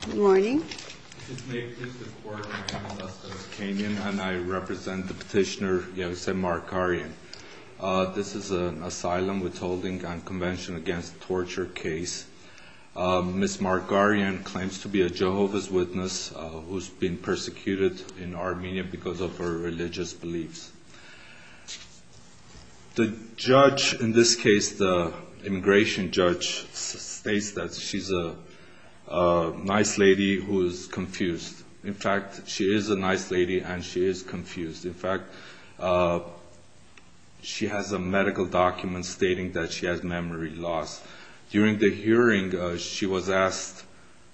This is an asylum withholding and convention against torture case. Ms. Markaryan claims to be a Jehovah's Witness who has been persecuted in Armenia because of her religious beliefs. The judge, in this case the immigration judge, states that she's a nice lady who is confused. In fact, she is a nice lady and she is confused. In fact, she has a medical document stating that she has memory loss. During the hearing, she was asked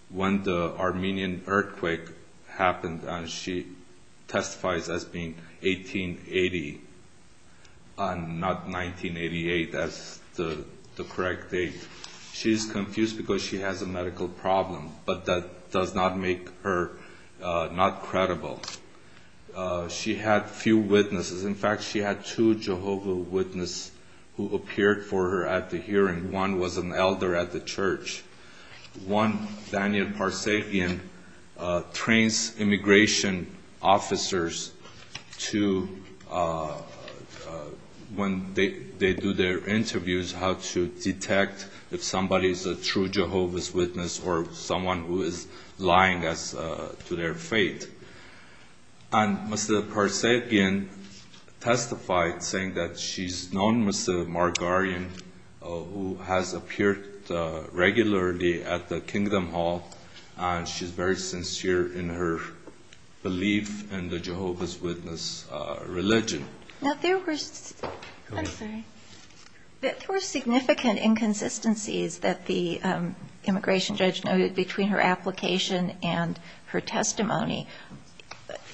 when the Armenian earthquake happened, and she testifies as being 1880 and not 1988 as the correct date. She's confused because she has a medical problem, but that does not make her not credible. She had few witnesses. In fact, she had two Jehovah's Witnesses who appeared for her at the hearing. One was an elder at the church. One, Daniel Parsepian, trains immigration officers to, when they do their interviews, how to detect if somebody is a true Jehovah's Witness or someone who is lying to their faith. And Mr. Parsepian testified saying that she's known as the Margarine who has appeared regularly at the Kingdom Hall, and she's very sincere in her belief in the Jehovah's Witness religion. Now, there were significant inconsistencies that the immigration judge noted between her application and her testimony.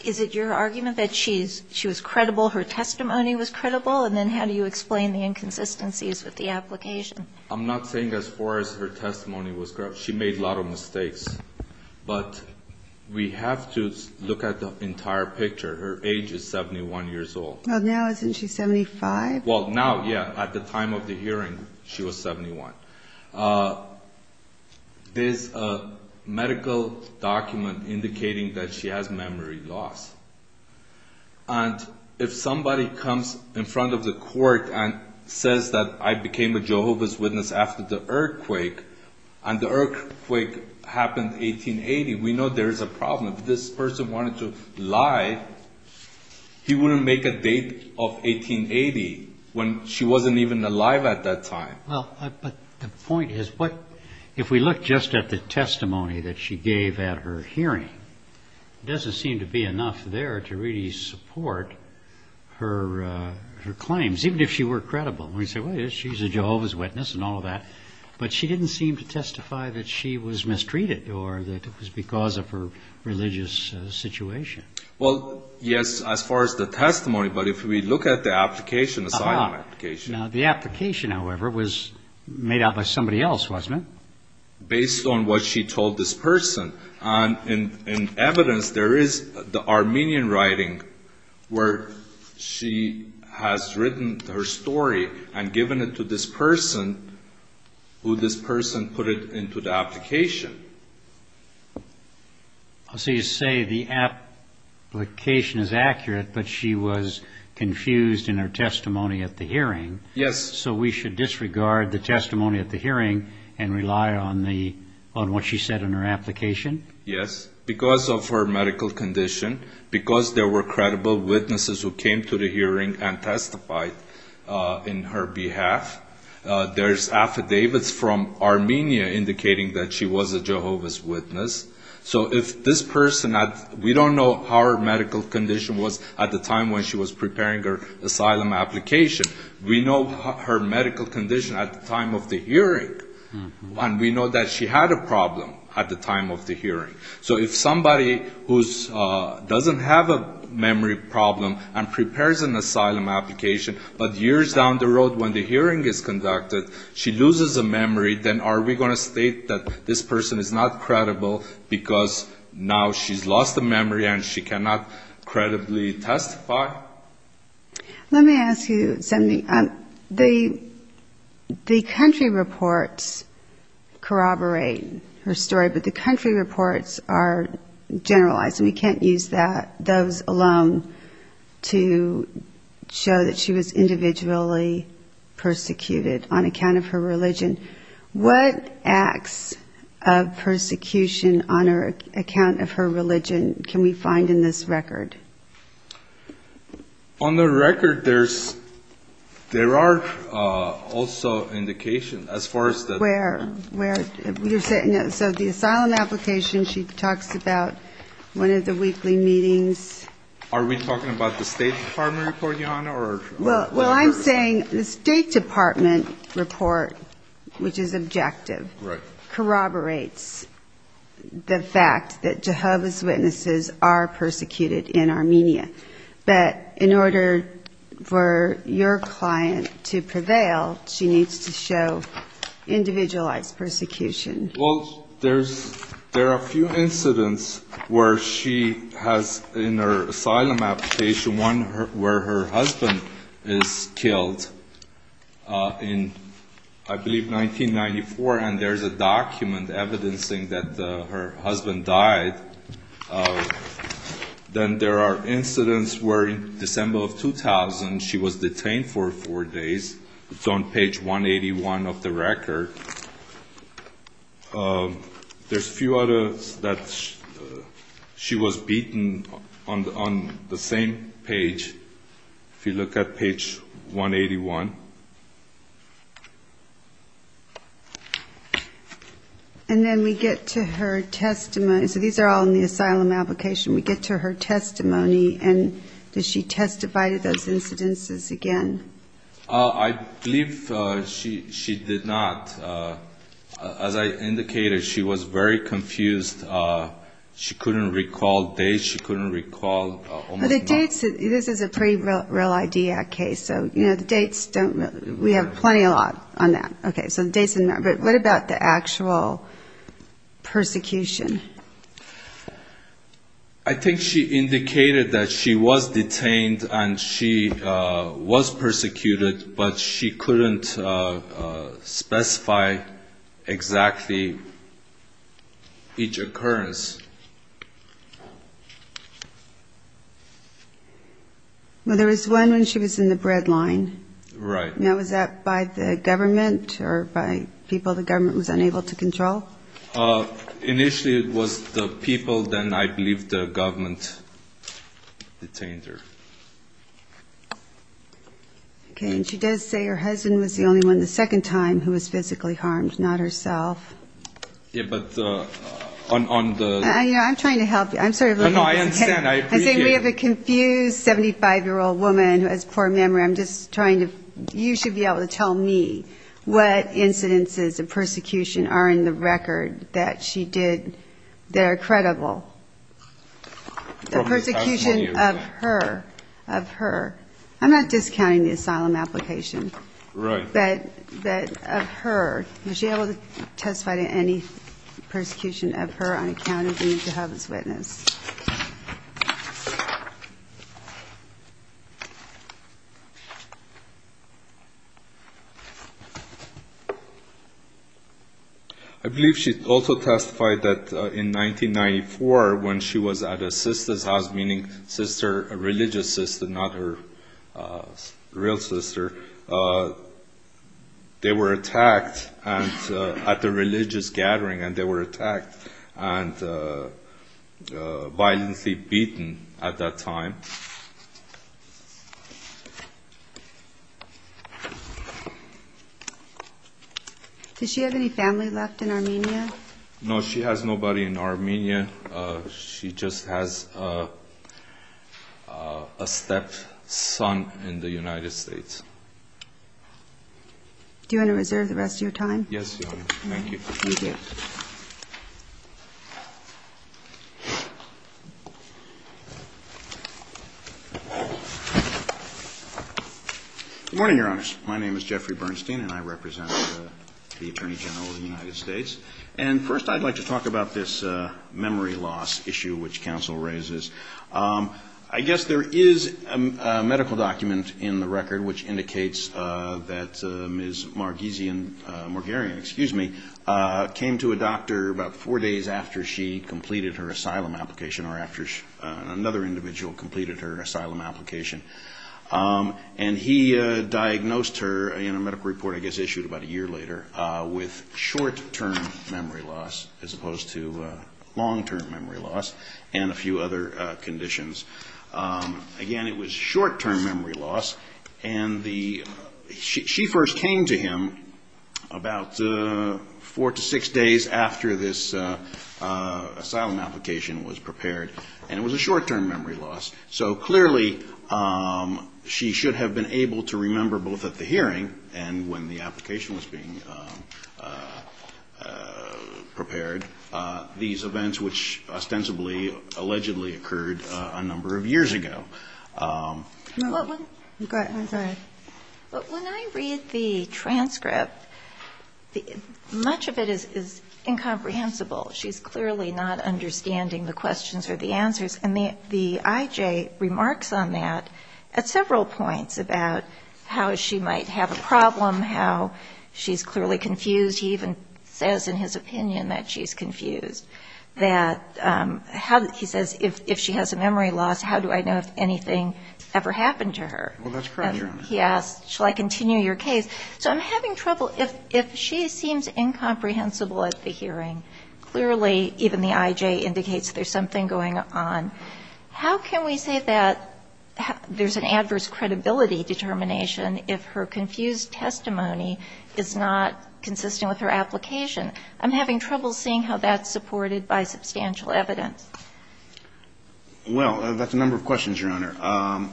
Is it your argument that she was credible, her testimony was credible, and then how do you explain the inconsistencies with the application? I'm not saying as far as her testimony was credible. She made a lot of mistakes. But we have to look at the entire picture. Her age is 71 years old. Well, now isn't she 75? Well, now, yeah. At the time of the hearing, she was 71. There's a medical document indicating that she has memory loss. And if somebody comes in front of the court and says that I became a Jehovah's Witness after the earthquake, and the earthquake happened 1880, we know there is a problem. If this person wanted to lie, he wouldn't make a date of 1880 when she wasn't even alive at that time. But the point is, if we look just at the testimony that she gave at her hearing, it doesn't seem to be enough there to really support her claims, even if she were credible. We say, well, she's a Jehovah's Witness and all of that. But she didn't seem to testify that she was mistreated or that it was because of her religious situation. Well, yes, as far as the testimony. But if we look at the application, the sign-up application. The application, however, was made out by somebody else, wasn't it? Based on what she told this person. And in evidence, there is the Armenian writing where she has written her story and given it to this person, who this person put it into the application. So you say the application is accurate, but she was confused in her testimony at the hearing. So we should disregard the testimony at the hearing and rely on what she said in her application? Yes, because of her medical condition, because there were credible witnesses who came to the hearing and testified in her behalf. There's affidavits from Armenia indicating that she was a Jehovah's Witness. So if this person, we don't know how her medical condition was at the time when she was preparing her asylum application. We know her medical condition at the time of the hearing. And we know that she had a problem at the time of the hearing. So if somebody who doesn't have a memory problem and prepares an asylum application, but years down the road when the hearing is conducted, she loses her memory, then are we going to state that this person is not credible because now she's lost her memory and she cannot credibly testify? Let me ask you something. The country reports corroborate her story, but the country reports are generalized. We can't use those alone to show that she was individually persecuted on account of her religion. What acts of persecution on account of her religion can we find in this record? On the record, there are also indications as far as the... So the asylum application, she talks about one of the weekly meetings. Are we talking about the State Department report, Your Honor, or... Well, I'm saying the State Department report, which is objective, corroborates the fact that Jehovah's Witnesses are persecuted in Armenia. But in order for your client to prevail, she needs to show individualized persecution. Well, there are a few incidents where she has in her asylum application, one where her husband is killed in I believe 1994, and there's a document evidencing that her husband died Then there are incidents where in December of 2000, she was detained for four days. It's on page 181 of the record. There's a few others that she was beaten on the same page, if you look at page 181. And then we get to her testimony. So these are all in the asylum application. We get to her testimony, and does she testify to those incidences again? I believe she did not. As I indicated, she was very confused. She couldn't recall dates. She couldn't recall almost nothing. This is a pretty real ID act case, so the dates don't really... We have plenty a lot on that. But what about the actual persecution? I think she indicated that she was detained and she was persecuted, but she couldn't specify exactly each occurrence. Well, there was one when she was in the bread line. Right. Now, was that by the government or by people the government was unable to control? Initially, it was the people, then I believe the government detained her. Okay, and she does say her husband was the only one the second time who was physically harmed, not herself. Yeah, but on the... I'm trying to help you. I'm sorry. No, no, I understand. I appreciate it. I'm saying we have a confused 75-year-old woman who has poor memory. I'm just trying to... You should be able to tell me what incidences of persecution are in the record that she did that are credible. The persecution of her, of her. I'm not discounting the asylum application. Right. But of her, was she able to testify to any persecution of her on account of being a Jehovah's Witness? I believe she also testified that in 1994 when she was at a sister's house, meaning religious sister, not her real sister, they were attacked at the religious gathering and they were attacked and violently beaten at that time. Does she have any family left in Armenia? No, she has nobody in Armenia. She just has a stepson in the United States. Do you want to reserve the rest of your time? Yes, Your Honor. Thank you. Good morning, Your Honors. My name is Jeffrey Bernstein and I represent the Attorney General of the United States. And first I'd like to talk about this memory loss issue which counsel raises. I guess there is a medical document in the record which indicates that Ms. Margeesian, Margearian, excuse me, came to a doctor about four days after she completed her asylum application or after another individual completed her asylum application. And he diagnosed her in a medical report I guess issued about a year later with short-term memory loss as opposed to long-term memory loss and a few other conditions. Again, it was short-term memory loss. And she first came to him about four to six days after this asylum application was prepared and it was a short-term memory loss. So clearly she should have been able to remember both at the hearing and when the application was being prepared these events which ostensibly allegedly occurred a number of years ago. Go ahead. I'm sorry. But when I read the transcript, much of it is incomprehensible. She's clearly not understanding the questions or the answers. And the I.J. remarks on that at several points about how she might have a problem, how she's clearly confused. He even says in his opinion that she's confused, that how he says if she has a memory loss, how do I know if anything ever happened to her? Well, that's correct, Your Honor. Yes. Shall I continue your case? So I'm having trouble. If she seems incomprehensible at the hearing, clearly even the I.J. indicates there's something going on. How can we say that there's an adverse credibility determination if her confused testimony is not consistent with her application? I'm having trouble seeing how that's supported by substantial evidence. Well, that's a number of questions, Your Honor.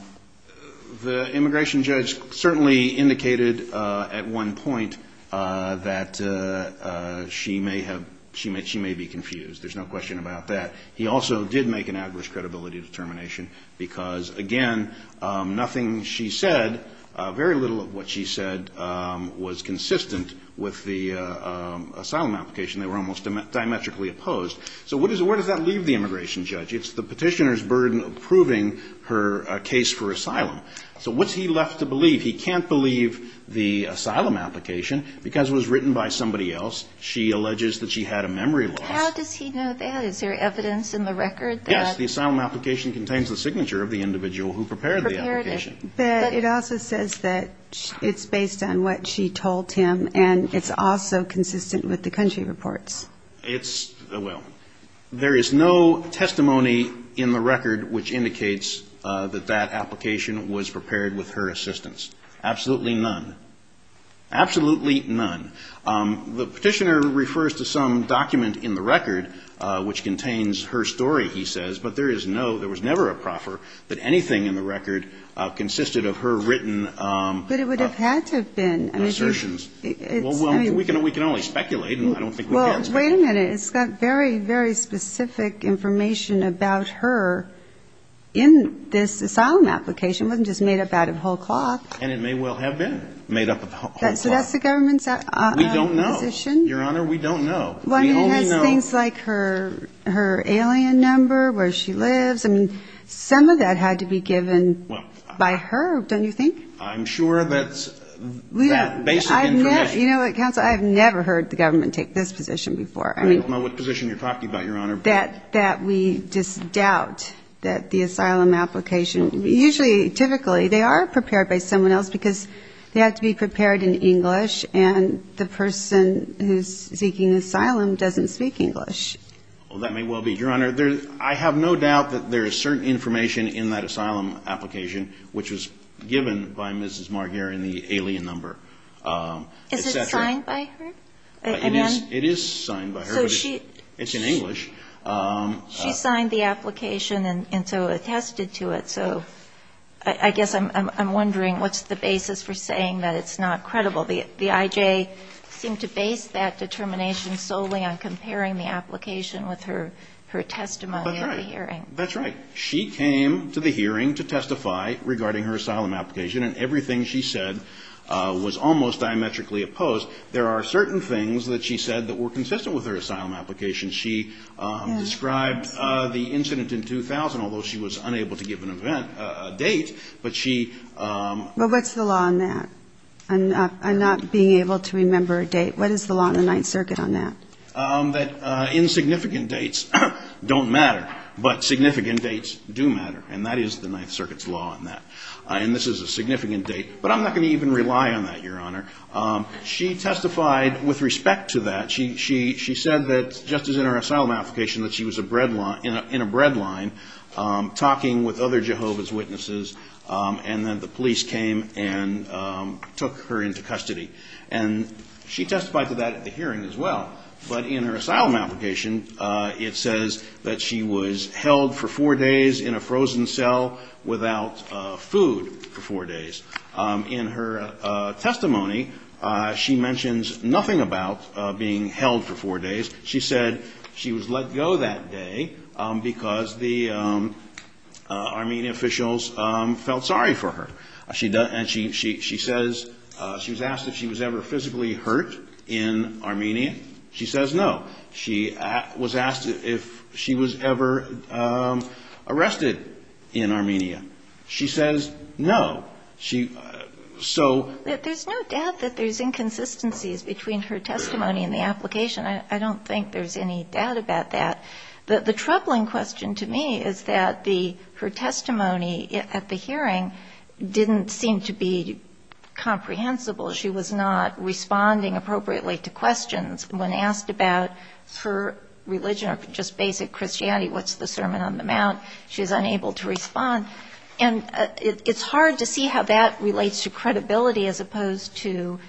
The immigration judge certainly indicated at one point that she may have – she may be confused. There's no question about that. He also did make an adverse credibility determination because, again, nothing she said, very little of what she said was consistent with the asylum application. They were almost diametrically opposed. So where does that leave the immigration judge? It's the Petitioner's burden of proving her case for asylum. So what's he left to believe? He can't believe the asylum application because it was written by somebody else. She alleges that she had a memory loss. How does he know that? Is there evidence in the record that – Yes. The asylum application contains the signature of the individual who prepared the application. But it also says that it's based on what she told him and it's also consistent with the country reports. It's – well, there is no testimony in the record which indicates that that application was prepared with her assistance. Absolutely none. Absolutely none. The Petitioner refers to some document in the record which contains her story, he says, but there is no – there was never a proffer that anything in the record consisted of her written – But it would have had to have been. Assertions. It's – I mean – Well, we can only speculate and I don't think we can – Well, wait a minute. It's got very, very specific information about her in this asylum application. It wasn't just made up out of whole cloth. And it may well have been made up of whole cloth. So that's the government's position? We don't know, Your Honor. We don't know. We only know – Well, I mean, it has things like her alien number, where she lives. I mean, some of that had to be given by her, don't you think? I'm sure that's that basic information. You know what, Counsel, I have never heard the government take this position before. I don't know what position you're talking about, Your Honor. That we just doubt that the asylum application – usually, typically, they are prepared by someone else because they have to be prepared in English. And the person who's seeking asylum doesn't speak English. Well, that may well be. Your Honor, I have no doubt that there is certain information in that asylum application which was given by Mrs. Marguer in the alien number, et cetera. Is it signed by her? It is signed by her. So she – It's in English. She signed the application and so attested to it. So I guess I'm wondering what's the basis for saying that it's not credible. The IJ seemed to base that determination solely on comparing the application with her testimony at the hearing. That's right. That's right. She came to the hearing to testify regarding her asylum application, and everything she said was almost diametrically opposed. There are certain things that she said that were consistent with her asylum application. She described the incident in 2000, although she was unable to give an event, a date. But she – But what's the law on that? I'm not being able to remember a date. What is the law in the Ninth Circuit on that? That insignificant dates don't matter, but significant dates do matter. And that is the Ninth Circuit's law on that. And this is a significant date. But I'm not going to even rely on that, Your Honor. She testified with respect to that. She said that, just as in her asylum application, that she was in a bread line talking with other Jehovah's Witnesses, and that the police came and took her into custody. And she testified to that at the hearing as well. But in her asylum application, it says that she was held for four days in a frozen cell without food for four days. In her testimony, she mentions nothing about being held for four days. She said she was let go that day because the Armenian officials felt sorry for her. She says she was asked if she was ever physically hurt in Armenia. She says no. She was asked if she was ever arrested in Armenia. She says no. She so ---- There's no doubt that there's inconsistencies between her testimony and the application. I don't think there's any doubt about that. The troubling question to me is that the her testimony at the hearing didn't seem to be comprehensible. She was not responding appropriately to questions. When asked about her religion or just basic Christianity, what's the Sermon on the Mount, she's unable to respond. And it's hard to see how that relates to credibility as opposed to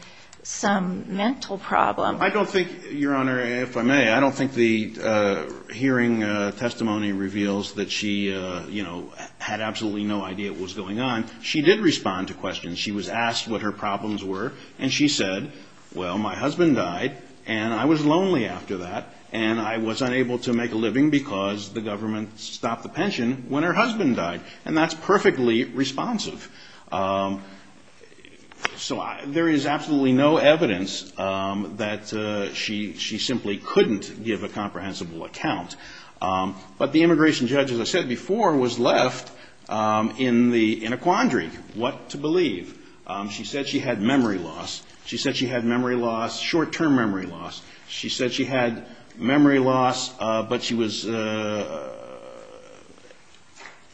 some mental problem. I don't think, Your Honor, if I may, I don't think the hearing testimony reveals that she, you know, had absolutely no idea what was going on. She did respond to questions. She was asked what her problems were, and she said, well, my husband died, and I was lonely after that, and I was unable to make a living because the government stopped the pension when her husband died. And that's perfectly responsive. So there is absolutely no evidence that she simply couldn't give a comprehensible account. But the immigration judge, as I said before, was left in a quandary. What to believe? She said she had memory loss. She said she had memory loss, short-term memory loss. She said she had memory loss, but she was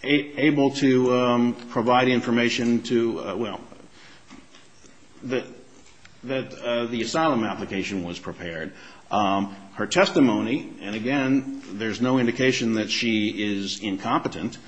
able to provide information to, well, that the asylum application was prepared. Her testimony, and again, there's no indication that she is incompetent.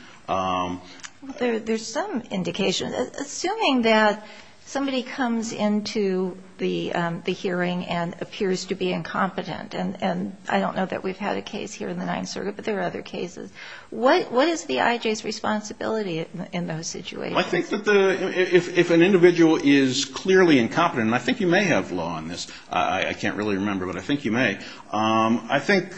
There's some indication. Assuming that somebody comes into the hearing and appears to be incompetent, and I don't know that we've had a case here in the Ninth Circuit, but there are other cases, what is the IJ's responsibility in those situations? Well, I think that if an individual is clearly incompetent, and I think you may have law on this. I can't really remember, but I think you may. I think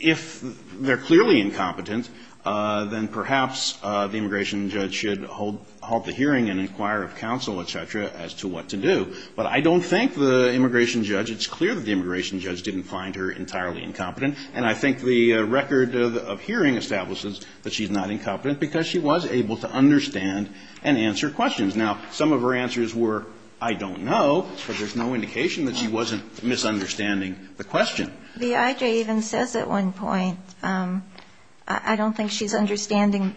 if they're clearly incompetent, then perhaps the immigration judge should hold the hearing and inquire of counsel, et cetera, as to what to do. But I don't think the immigration judge, it's clear that the immigration judge didn't find her entirely incompetent. And I think the record of hearing establishes that she's not incompetent because she was able to understand and answer questions. Now, some of her answers were, I don't know, but there's no indication that she wasn't misunderstanding the question. The IJ even says at one point, I don't think she's understanding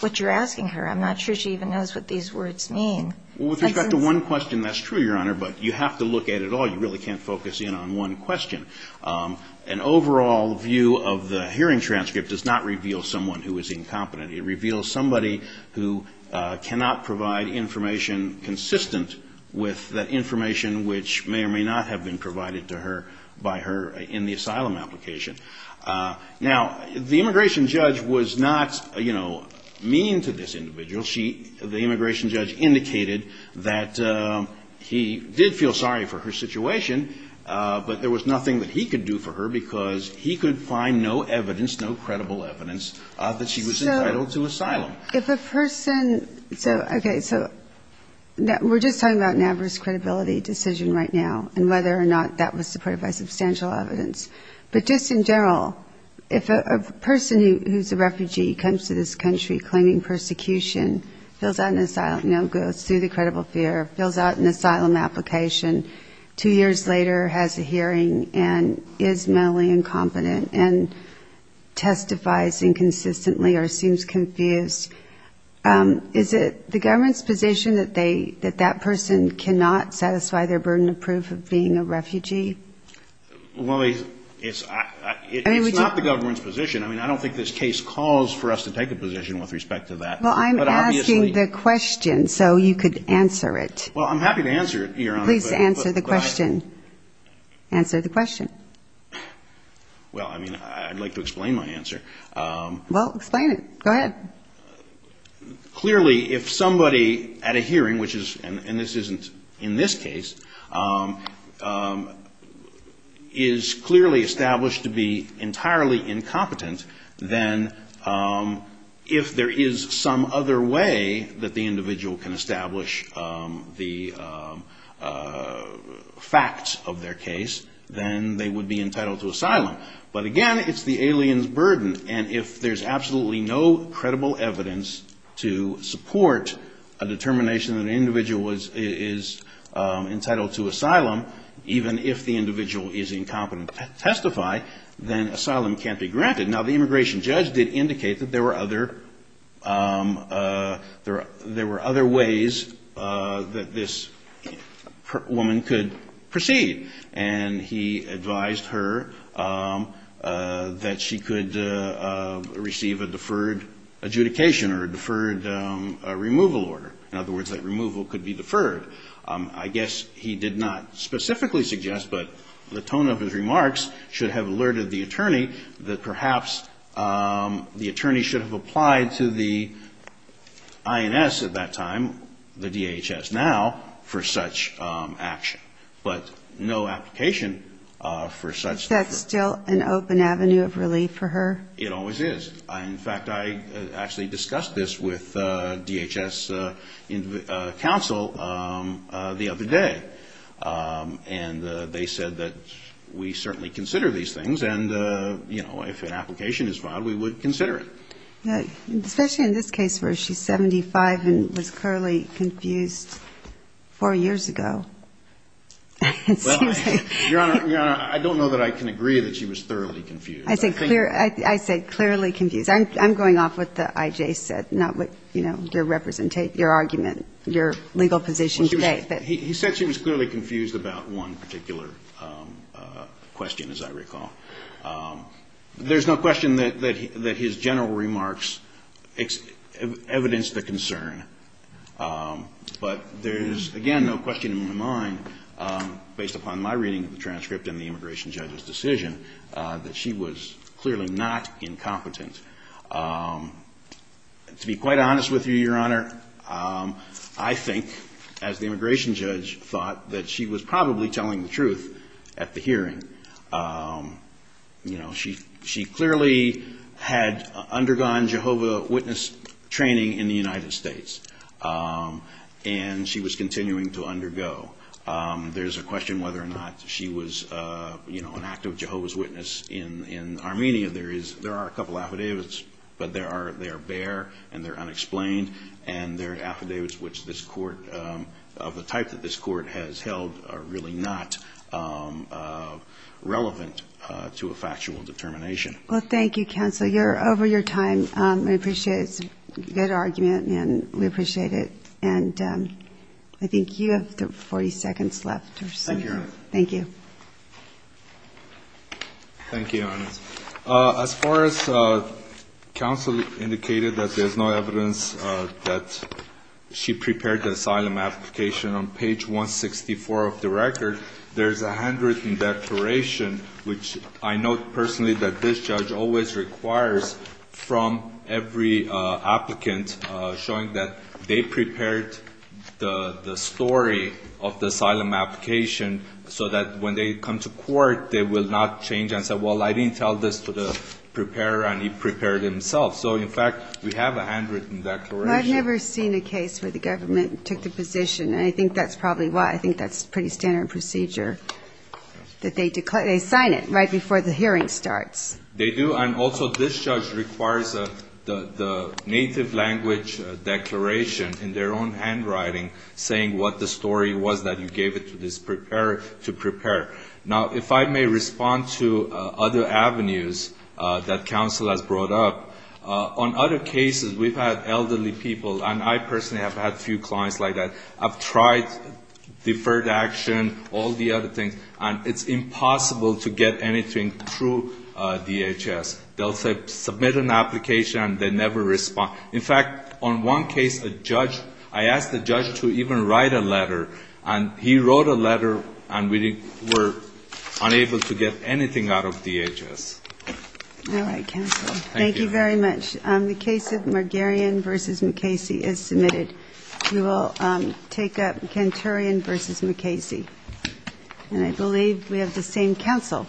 what you're asking her. I'm not sure she even knows what these words mean. Well, with respect to one question, that's true, Your Honor, but you have to look at it all. You really can't focus in on one question. An overall view of the hearing transcript does not reveal someone who is incompetent. It reveals somebody who cannot provide information consistent with that information which may or may not have been provided to her by her in the asylum application. Now, the immigration judge was not, you know, mean to this individual. The immigration judge indicated that he did feel sorry for her situation, but there was nothing that he could do for her because he could find no evidence, no credible evidence, that she was entitled to asylum. If a person so, okay, so we're just talking about an adverse credibility decision right now and whether or not that was supported by substantial evidence. But just in general, if a person who's a refugee comes to this country claiming persecution, fills out an asylum, you know, goes through the credible fear, fills out an asylum application, two years later has a hearing and is mentally incompetent and testifies inconsistently or seems confused, is it the government's position that that person cannot satisfy their burden of proof of being a refugee? Well, it's not the government's position. I mean, I don't think this case calls for us to take a position with respect to that. Well, I'm asking the question so you could answer it. Well, I'm happy to answer it, Your Honor. Please answer the question. Answer the question. Well, I mean, I'd like to explain my answer. Well, explain it. Go ahead. Clearly, if somebody at a hearing, which is, and this isn't in this case, is clearly established to be entirely incompetent, then if there is some other way that the individual can establish the facts of their case, then they would be entitled to asylum. And if there's absolutely no credible evidence to support a determination that an individual is entitled to asylum, even if the individual is incompetent to testify, then asylum can't be granted. Now, the immigration judge did indicate that there were other ways that this woman could proceed. And he advised her that she could receive a deferred adjudication or a deferred removal order. In other words, that removal could be deferred. I guess he did not specifically suggest, but the tone of his remarks should have alerted the attorney that perhaps the attorney should have applied to the INS at that time, the DHS now, for such action. But no application for such... That's still an open avenue of relief for her? It always is. In fact, I actually discussed this with DHS counsel the other day. And they said that we certainly consider these things, and, you know, if an application is filed, we would consider it. Especially in this case where she's 75 and was clearly confused four years ago. Well, Your Honor, I don't know that I can agree that she was thoroughly confused. I said clearly confused. I'm going off what the I.J. said, not what, you know, your argument, your legal position today. He said she was clearly confused about one particular question, as I recall. There's no question that his general remarks evidenced the concern. But there is, again, no question in my mind, based upon my reading of the transcript and the immigration judge's decision, that she was clearly not incompetent. To be quite honest with you, Your Honor, I think, as the immigration judge thought, that she was probably telling the truth at the hearing. You know, she clearly had undergone Jehovah's Witness training in the United States. And she was continuing to undergo. There's a question whether or not she was, you know, an active Jehovah's Witness in Armenia. There are a couple affidavits, but they are bare and they're unexplained. And there are affidavits which this court, of the type that this court has held, are really not relevant to a factual determination. Well, thank you, counsel. You're over your time. We appreciate it. It's a good argument, and we appreciate it. And I think you have 40 seconds left or so. Thank you. Thank you, Your Honor. As far as counsel indicated that there's no evidence that she prepared the asylum application, on page 164 of the record, there's a handwritten declaration, which I note personally that this judge always requires from every applicant, showing that they prepared the story of the asylum application, so that when they come to court, they will not change and say, well, I didn't tell this to the preparer, and he prepared himself. So, in fact, we have a handwritten declaration. Well, I've never seen a case where the government took the position, and I think that's probably why. I think that's pretty standard procedure, that they sign it right before the hearing starts. They do, and also this judge requires the native language declaration in their own handwriting saying what the story was that you gave it to this preparer to prepare. Now, if I may respond to other avenues that counsel has brought up, on other cases, we've had elderly people, and I personally have had a few clients like that, I've tried deferred action, all the other things, and it's impossible to get anything through DHS. They'll submit an application, and they never respond. In fact, on one case, a judge, I asked the judge to even write a letter, and he wrote a letter, and we were unable to get anything out of DHS. All right, counsel. Thank you very much. The case of Margarian v. McKayce is submitted. We will take up Canturian v. McKayce. And I believe we have the same counsel.